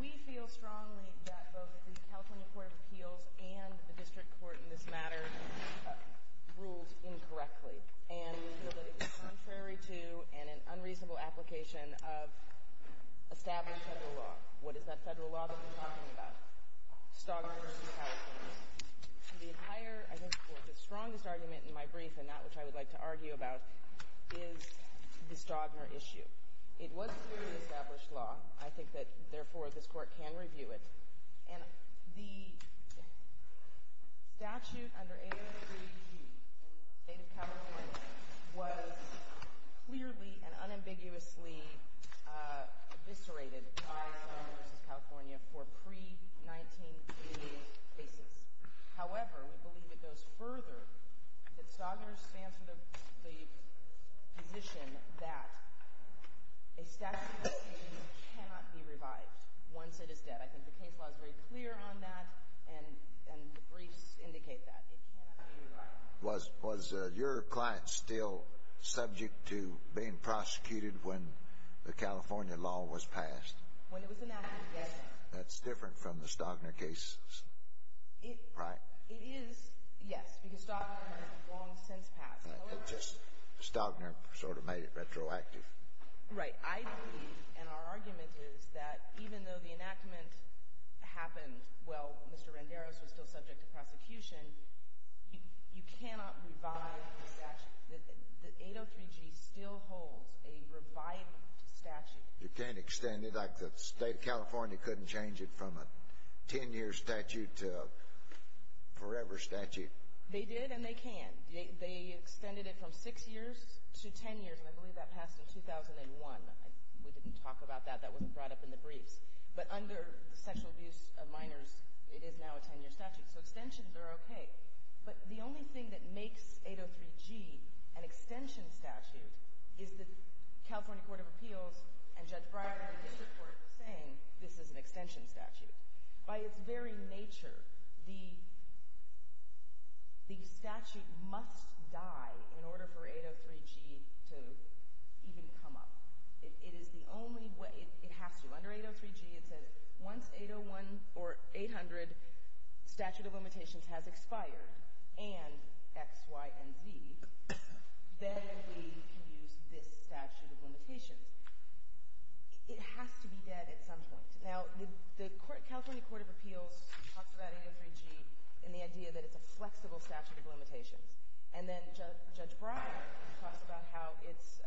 We feel strongly that both the California Court of Appeals and the District Court in this matter ruled incorrectly, and we feel that it is contrary to and an unreasonable application of established federal law. What is that federal law that we're talking about, Stogner v. California? The entire, I think, or the strongest argument in my brief, and that which I would like to argue about, is the Stogner issue. It was clearly established law. I think that, therefore, this Court can review it. And the statute under 883d in the state of California was clearly and unambiguously eviscerated by Stogner v. California for pre-1988 cases. However, we believe it goes further, that Stogner stands for the position that a statute of limitations cannot be revived once it is dead. I think the case law is very clear on that, and the briefs indicate that. It cannot be revived. Was your client still subject to being prosecuted when the California law was passed? When it was enacted, yes. That's different from the Stogner cases, right? It is, yes, because Stogner has long since passed. However — Stogner sort of made it retroactive. Right. I believe, and our argument is, that even though the enactment happened while Mr. You cannot extend it. The state of California couldn't change it from a 10-year statute to a forever statute. They did, and they can. They extended it from 6 years to 10 years, and I believe that passed in 2001. We didn't talk about that. That wasn't brought up in the briefs. But under the sexual abuse of minors, it is now a 10-year statute. So extensions are okay. But the only thing that makes 803G an extension statute is the California Court of Appeals and Judge Breyer in the district court saying this is an extension statute. By its very nature, the statute must die in order for 803G to even come up. It is the only way. It has to. So under 803G, it says once 801 or 800 statute of limitations has expired and X, Y, and Z, then we can use this statute of limitations. It has to be dead at some point. Now, the California Court of Appeals talks about 803G and the idea that it's a flexible statute of limitations. And then Judge Breyer talks about how it's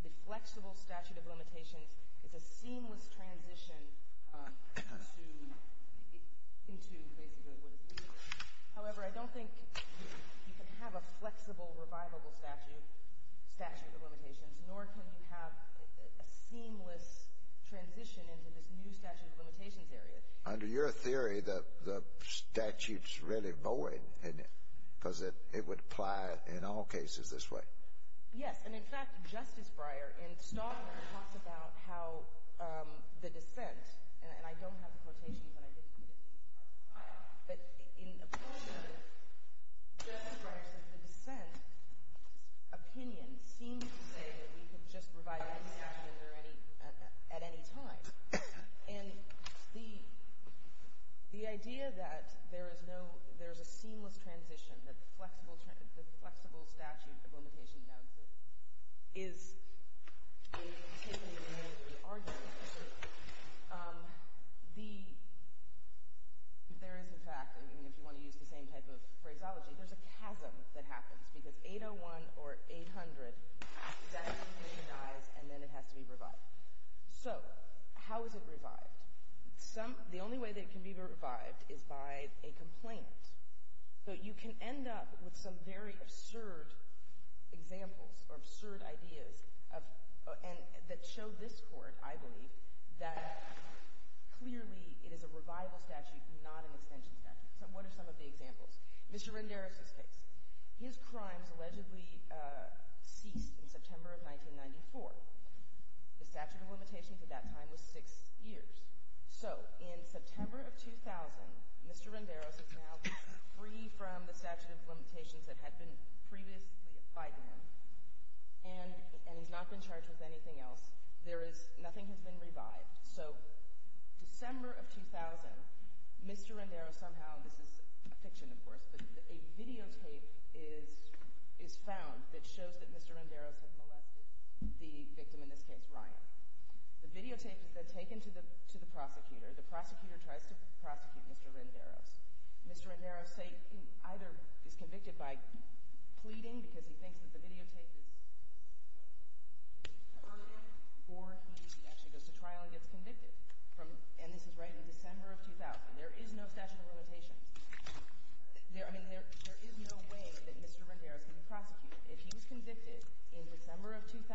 the flexible statute of limitations is a seamless transition into basically what is legal. However, I don't think you can have a flexible, revivable statute of limitations, nor can you have a seamless transition into this new statute of limitations area. Under your theory, the statute's really void because it would apply in all cases this way. Yes. And, in fact, Justice Breyer in Stockman talks about how the dissent, and I don't have the quotations, and I didn't put it in the article, but in a portion of it, Justice Breyer says the dissent opinion seems to say that we could just provide a new statute at any time. And the idea that there is no, there's a seamless transition, that the flexible statute of limitations now exists, is the tip of the argument. There is, in fact, if you want to use the same type of phraseology, there's a chasm that happens because 801 or 800, that opinion dies and then it has to be revived. So, how is it revived? The only way that it can be revived is by a complaint. But you can end up with some very absurd examples or absurd ideas that show this Court, I believe, that clearly it is a revival statute, not an extension statute. What are some of the examples? Mr. Renderis' case. His crimes allegedly ceased in September of 1994. The statute of limitations at that time was six years. So, in September of 2000, Mr. Renderis is now free from the statute of limitations that had been previously bygone, and he's not been charged with anything else. There is, nothing has been revived. So, December of 2000, Mr. Renderis somehow, this is a fiction, of course, but a videotape is found that shows that Mr. Renderis had molested the victim, in this case, Ryan. The videotape is then taken to the prosecutor. The prosecutor tries to prosecute Mr. Renderis. Mr. Renderis either is convicted by pleading, because he thinks that the videotape is urgent, or he actually goes to trial and gets convicted. And this is right in December of 2000. There is no statute of limitations. There, I mean, there is no way that Mr. Renderis can be prosecuted. If he was convicted in December of 2000,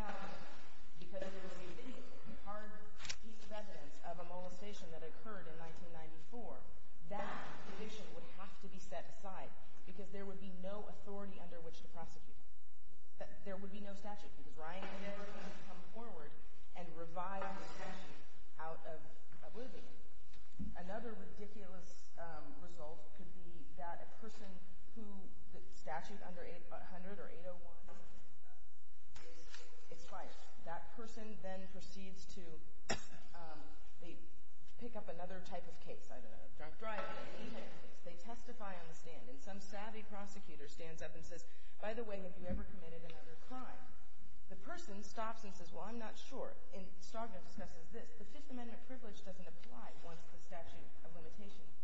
because he received a hard piece of evidence of a molestation that occurred in 1994, that conviction would have to be set aside, because there would be no authority under which to prosecute him. There would be no statute, because Ryan could never come forward and revive the statute out of oblivion. Another ridiculous result could be that a person who the statute under 800 or 801 is fined. That person then proceeds to pick up another type of case, I don't know, a drunk driver. They testify on the stand, and some savvy prosecutor stands up and says, by the way, have you ever committed another crime? The person stops and says, well, I'm not sure. And Stagner discusses this. The Fifth Amendment privilege doesn't apply once the statute of limitations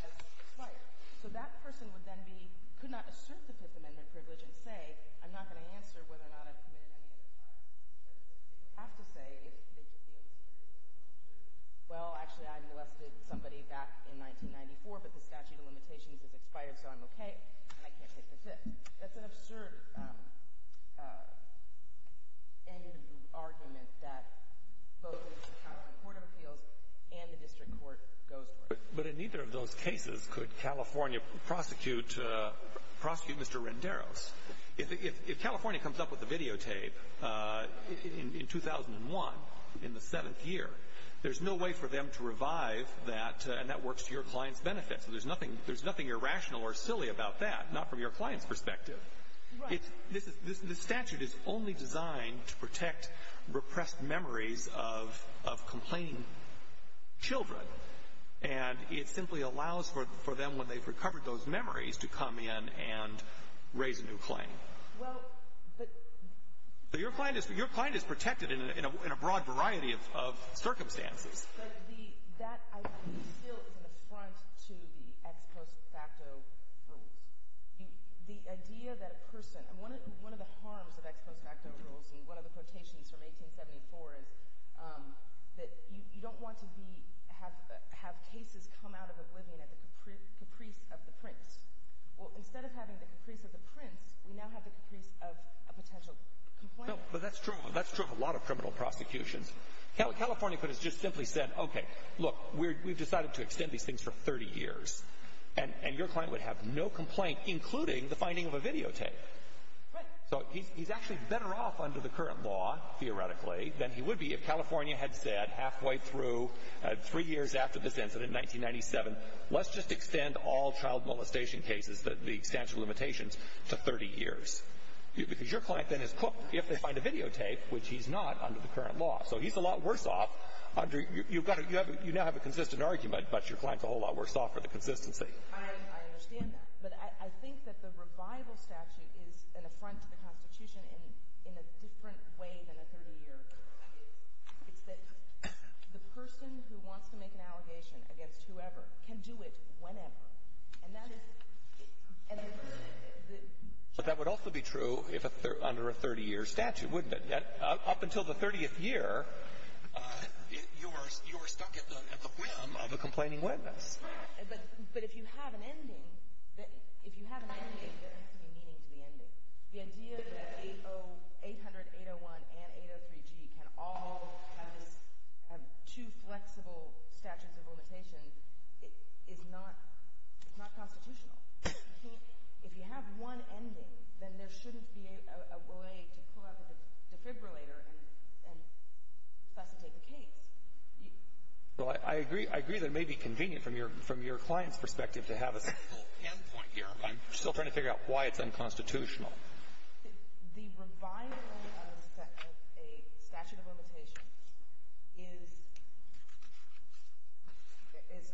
has expired. So that person would then be, could not assert the Fifth Amendment privilege and say, I'm not going to answer whether or not I've committed any other crimes. They would have to say if they feel superior to the Fifth Amendment privilege. Well, actually, I molested somebody back in 1994, but the statute of limitations has expired, so I'm okay, and I can't take the Fifth. That's an absurd end of the argument that both the California Court of Appeals and the district court goes for. But in neither of those cases could California prosecute Mr. Renderos. If California comes up with a videotape in 2001, in the seventh year, there's no way for them to revive that, and that works to your client's benefit. So there's nothing irrational or silly about that, not from your client's perspective. Right. The statute is only designed to protect repressed memories of complained children, and it simply allows for them, when they've recovered those memories, to come in and raise a new claim. Well, but — Your client is protected in a broad variety of circumstances. But that, I think, still is an affront to the ex post facto rules. The idea that a person—one of the harms of ex post facto rules, and one of the quotations from 1874 is that you don't want to be— have cases come out of oblivion at the caprice of the prince. Well, instead of having the caprice of the prince, we now have the caprice of a potential complainant. No, but that's true of a lot of criminal prosecutions. California could have just simply said, okay, look, we've decided to extend these things for 30 years, and your client would have no complaint, including the finding of a videotape. Right. So he's actually better off under the current law, theoretically, than he would be if California had said halfway through, three years after this incident in 1997, let's just extend all child molestation cases, the statute of limitations, to 30 years. Because your client then is cooked if they find a videotape, which he's not under the current law. So he's a lot worse off under—you've got a—you now have a consistent argument, but your client's a whole lot worse off for the consistency. I understand that. But I think that the revival statute is an affront to the Constitution in a different way than a 30-year. It's that the person who wants to make an allegation against whoever can do it whenever. And that is— But that would also be true under a 30-year statute, wouldn't it? Up until the 30th year, you are stuck at the whim of a complaining witness. But if you have an ending, if you have an ending, there has to be meaning to the ending. The idea that 800, 801, and 803G can all have two flexible statutes of limitation is not constitutional. If you have one ending, then there shouldn't be a way to pull out the defibrillator and facilitate the case. Well, I agree that it may be convenient from your client's perspective to have a simple end point here, but I'm still trying to figure out why it's unconstitutional. The revival of a statute of limitation is,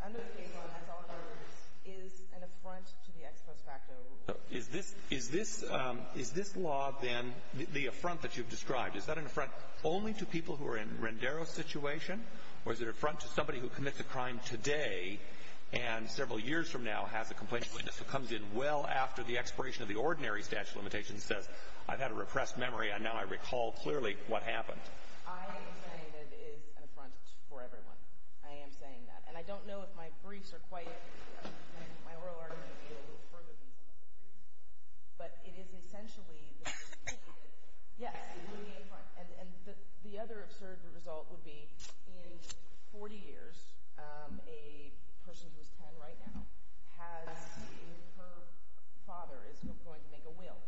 under the case law, as always, is an affront to the ex post facto rule. Is this law, then, the affront that you've described, is that an affront only to people who are in Rendero's situation, or is it an affront to somebody who commits a crime today and several years from now has a complaining witness who comes in well after the expiration of the ordinary statute of limitation and says, I've had a repressed memory and now I recall clearly what happened? I am saying that it is an affront for everyone. I am saying that. And I don't know if my briefs are quite—my oral argument may be a little further than some of the briefs, but it is essentially—yes, it would be an affront. And the other absurd result would be, in 40 years, a person who is 10 right now has—her father is going to make a will,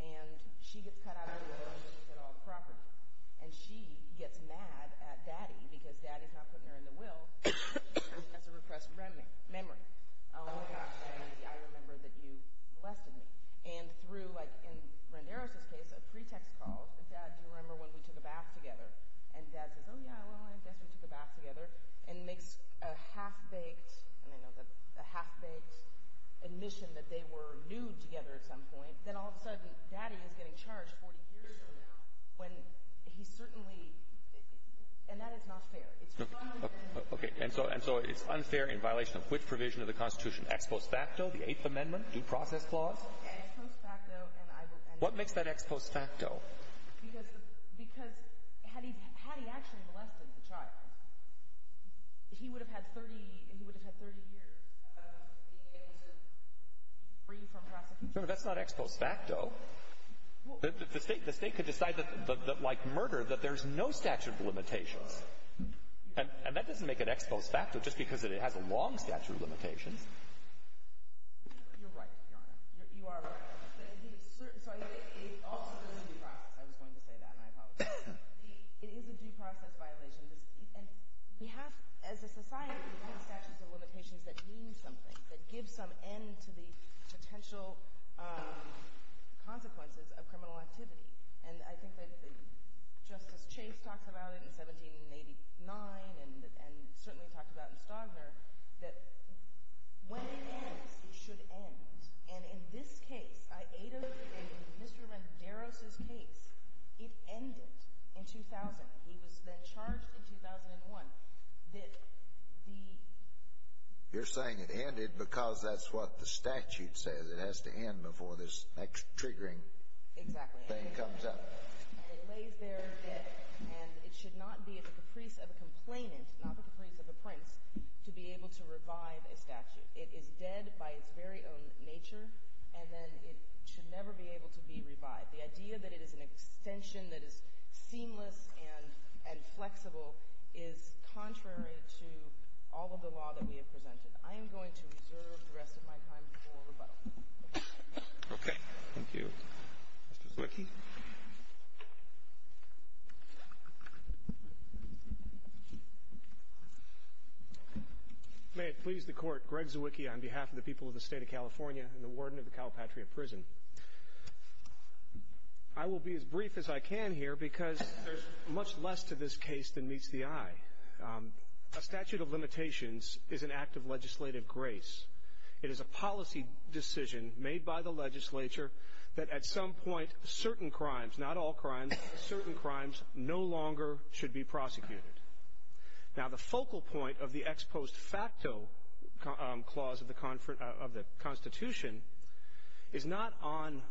and she gets cut out of the will to get all the property, and she gets mad at Daddy because Daddy's not putting her in the will because she has a repressed memory. Oh my gosh, I remember that you molested me. And through, like in Rendero's case, a pretext called—Dad, do you remember when we took a bath together? And Dad says, oh yeah, well, I guess we took a bath together, and makes a half-baked—I don't know, a half-baked admission that they were nude together at some point. Then all of a sudden, Daddy is getting charged 40 years from now when he certainly—and that is not fair. Okay, and so it's unfair in violation of which provision of the Constitution? Ex post facto, the Eighth Amendment, due process clause? What makes that ex post facto? Because had he actually molested the child, he would have had 30 years of being able to free from prosecution. No, no, that's not ex post facto. The State could decide that, like murder, that there's no statute of limitations. And that doesn't make it ex post facto just because it has a long statute of limitations. You're right, Your Honor. You are right. So it also goes to due process. I was going to say that, and I apologize. It is a due process violation. And we have, as a society, we have statutes of limitations that mean something, that give some end to the potential consequences of criminal activity. And I think that Justice Chase talked about it in 1789 and certainly talked about it in Stagner, that when it ends, it should end. And in this case, in Mr. Renderos' case, it ended in 2000. He was then charged in 2001 that the— You're saying it ended because that's what the statute says. It has to end before this next triggering thing comes up. Exactly. And it lays there dead. And it should not be at the caprice of a complainant, not at the caprice of a prince, to be able to revive a statute. It is dead by its very own nature, and then it should never be able to be revived. The idea that it is an extension that is seamless and flexible is contrary to all of the law that we have presented. I am going to reserve the rest of my time for rebuttal. Okay. Thank you. Mr. Zwicky. May it please the Court, Greg Zwicky on behalf of the people of the State of California and the Warden of the Calpatria Prison. I will be as brief as I can here because there's much less to this case than meets the eye. A statute of limitations is an act of legislative grace. It is a policy decision made by the legislature that at some point certain crimes, not all crimes, certain crimes no longer should be prosecuted. Now, the focal point of the ex post facto clause of the Constitution is not on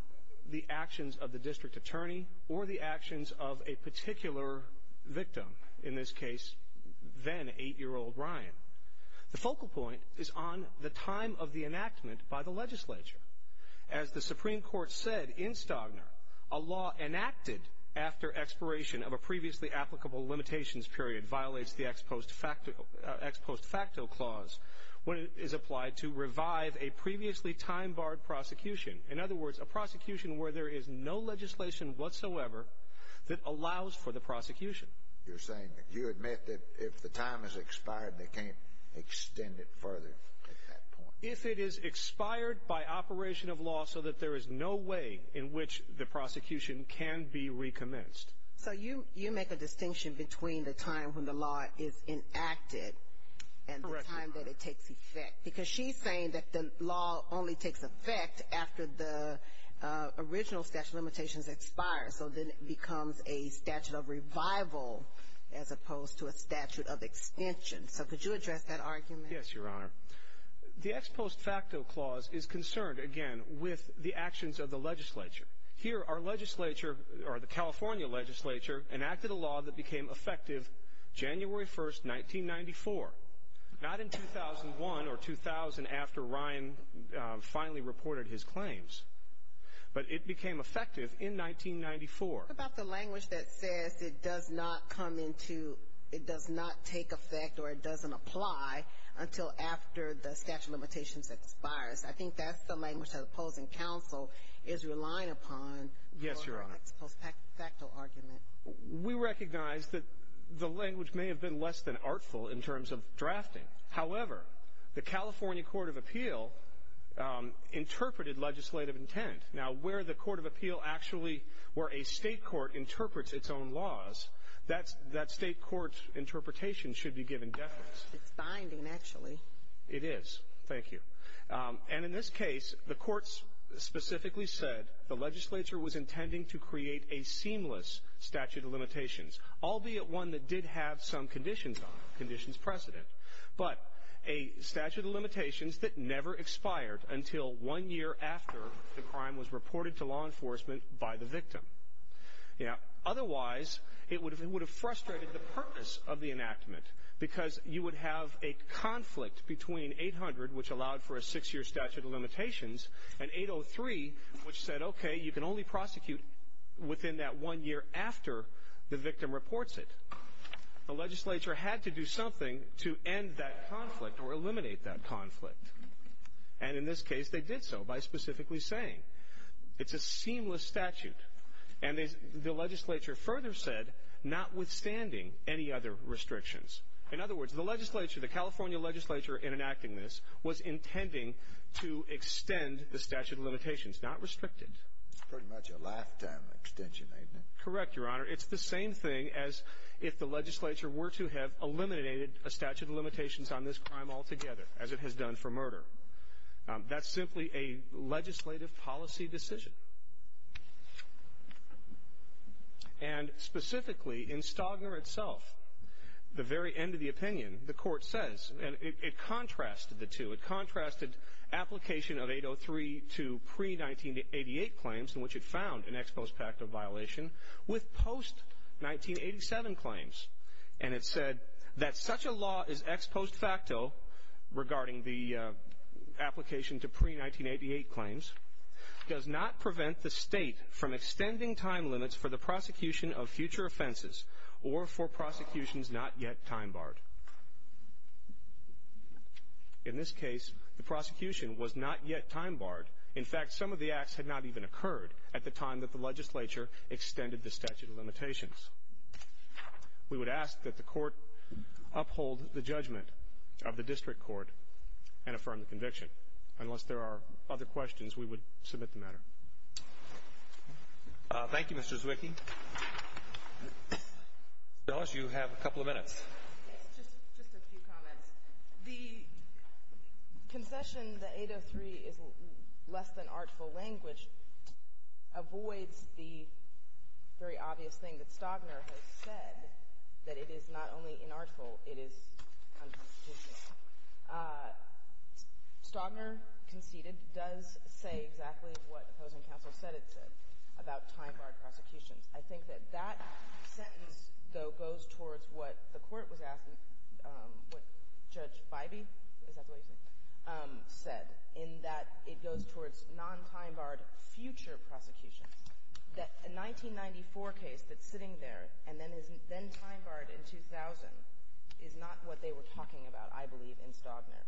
the actions of the district attorney or the actions of a particular victim, in this case, then eight-year-old Ryan. The focal point is on the time of the enactment by the legislature. As the Supreme Court said in Stagner, a law enacted after expiration of a previously applicable limitations period violates the ex post facto clause when it is applied to revive a previously time-barred prosecution. In other words, a prosecution where there is no legislation whatsoever that allows for the prosecution. You're saying that you admit that if the time has expired, they can't extend it further at that point. If it is expired by operation of law so that there is no way in which the prosecution can be recommenced. So you make a distinction between the time when the law is enacted and the time that it takes effect. Because she's saying that the law only takes effect after the original statute of limitations expires. So then it becomes a statute of revival as opposed to a statute of extension. So could you address that argument? Yes, Your Honor. The ex post facto clause is concerned, again, with the actions of the legislature. Here, our legislature, or the California legislature, enacted a law that became effective January 1st, 1994. Not in 2001 or 2000 after Ryan finally reported his claims. But it became effective in 1994. What about the language that says it does not come into, it does not take effect or it doesn't apply until after the statute of limitations expires? I think that's the language the opposing counsel is relying upon for an ex post facto argument. We recognize that the language may have been less than artful in terms of drafting. However, the California Court of Appeal interpreted legislative intent. Now, where the Court of Appeal actually, where a state court interprets its own laws, that state court's interpretation should be given defense. It's binding, actually. It is. Thank you. And in this case, the courts specifically said the legislature was intending to create a seamless statute of limitations, albeit one that did have some conditions on it, conditions precedent. But a statute of limitations that never expired until one year after the crime was reported to law enforcement by the victim. Otherwise, it would have frustrated the purpose of the enactment because you would have a conflict between 800, which allowed for a six-year statute of limitations, and 803, which said, okay, you can only prosecute within that one year after the victim reports it. The legislature had to do something to end that conflict or eliminate that conflict. And in this case, they did so by specifically saying, it's a seamless statute. And the legislature further said, notwithstanding any other restrictions. In other words, the legislature, the California legislature in enacting this was intending to extend the statute of limitations, not restrict it. It's pretty much a lifetime extension, isn't it? Correct, Your Honor. It's the same thing as if the legislature were to have eliminated a statute of limitations on this crime altogether, as it has done for murder. That's simply a legislative policy decision. And specifically, in Stagner itself, the very end of the opinion, the court says, and it contrasted the two. in which it found an ex post facto violation with post-1987 claims. And it said that such a law is ex post facto regarding the application to pre-1988 claims, does not prevent the state from extending time limits for the prosecution of future offenses or for prosecutions not yet time barred. In this case, the prosecution was not yet time barred. In fact, some of the acts had not even occurred at the time that the legislature extended the statute of limitations. We would ask that the court uphold the judgment of the district court and affirm the conviction. Unless there are other questions, we would submit the matter. Thank you, Mr. Zwicky. Ms. Ellis, you have a couple of minutes. Just a few comments. The concession that 803 is less than artful language avoids the very obvious thing that Stagner has said, that it is not only inartful, it is unconstitutional. Stagner conceded, does say exactly what opposing counsel said it said about time barred prosecutions. I think that that sentence, though, goes towards what the court was asking, what Judge Bybee, is that the way you say it, said, in that it goes towards non-time barred future prosecutions. The 1994 case that's sitting there and then time barred in 2000 is not what they were talking about, I believe, in Stagner.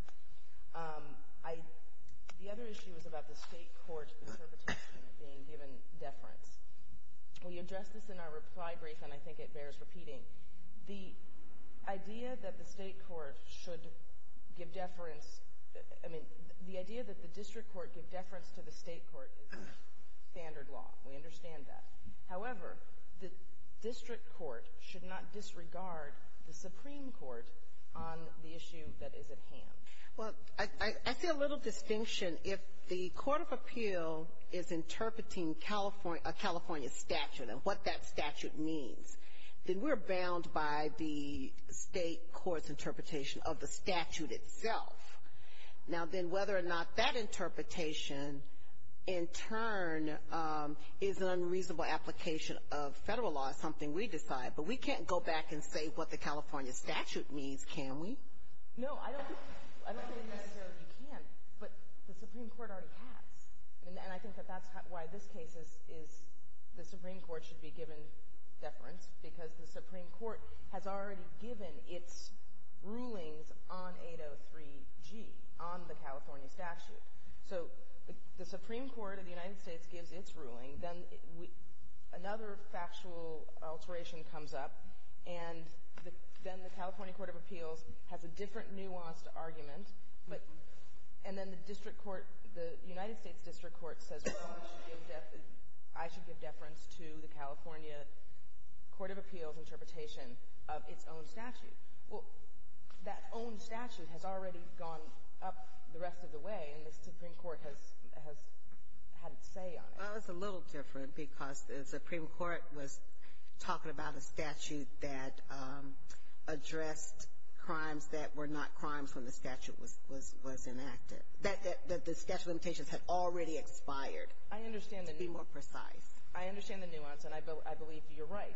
The other issue is about the state court's interpretation of being given deference. We addressed this in our reply brief, and I think it bears repeating. The idea that the state court should give deference, I mean, the idea that the district court give deference to the state court is standard law. We understand that. However, the district court should not disregard the Supreme Court on the issue that is at hand. Well, I see a little distinction. If the court of appeal is interpreting a California statute and what that statute means, then we're bound by the state court's interpretation of the statute itself. Now, then, whether or not that interpretation, in turn, is an unreasonable application of federal law is something we decide. But we can't go back and say what the California statute means, can we? No, I don't think necessarily you can, but the Supreme Court already has. And I think that that's why this case is the Supreme Court should be given deference, because the Supreme Court has already given its rulings on 803G, on the California statute. So the Supreme Court of the United States gives its ruling. Then another factual alteration comes up, and then the California court of appeals has a different nuanced argument. And then the district court, the United States district court says, well, I should give deference to the California court of appeals interpretation of its own statute. Well, that own statute has already gone up the rest of the way, and the Supreme Court has had its say on it. Well, it's a little different, because the Supreme Court was talking about a statute that addressed crimes that were not crimes when the statute was enacted, that the statute of limitations had already expired. I understand the nuance. To be more precise. I understand the nuance, and I believe you're right,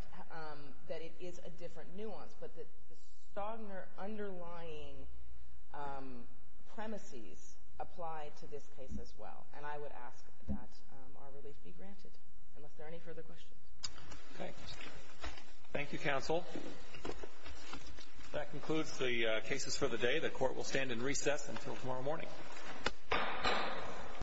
that it is a different nuance. But the stronger underlying premises apply to this case as well. And I would ask that our relief be granted, unless there are any further questions. Okay. Thank you, counsel. That concludes the cases for the day. The court will stand in recess until tomorrow morning.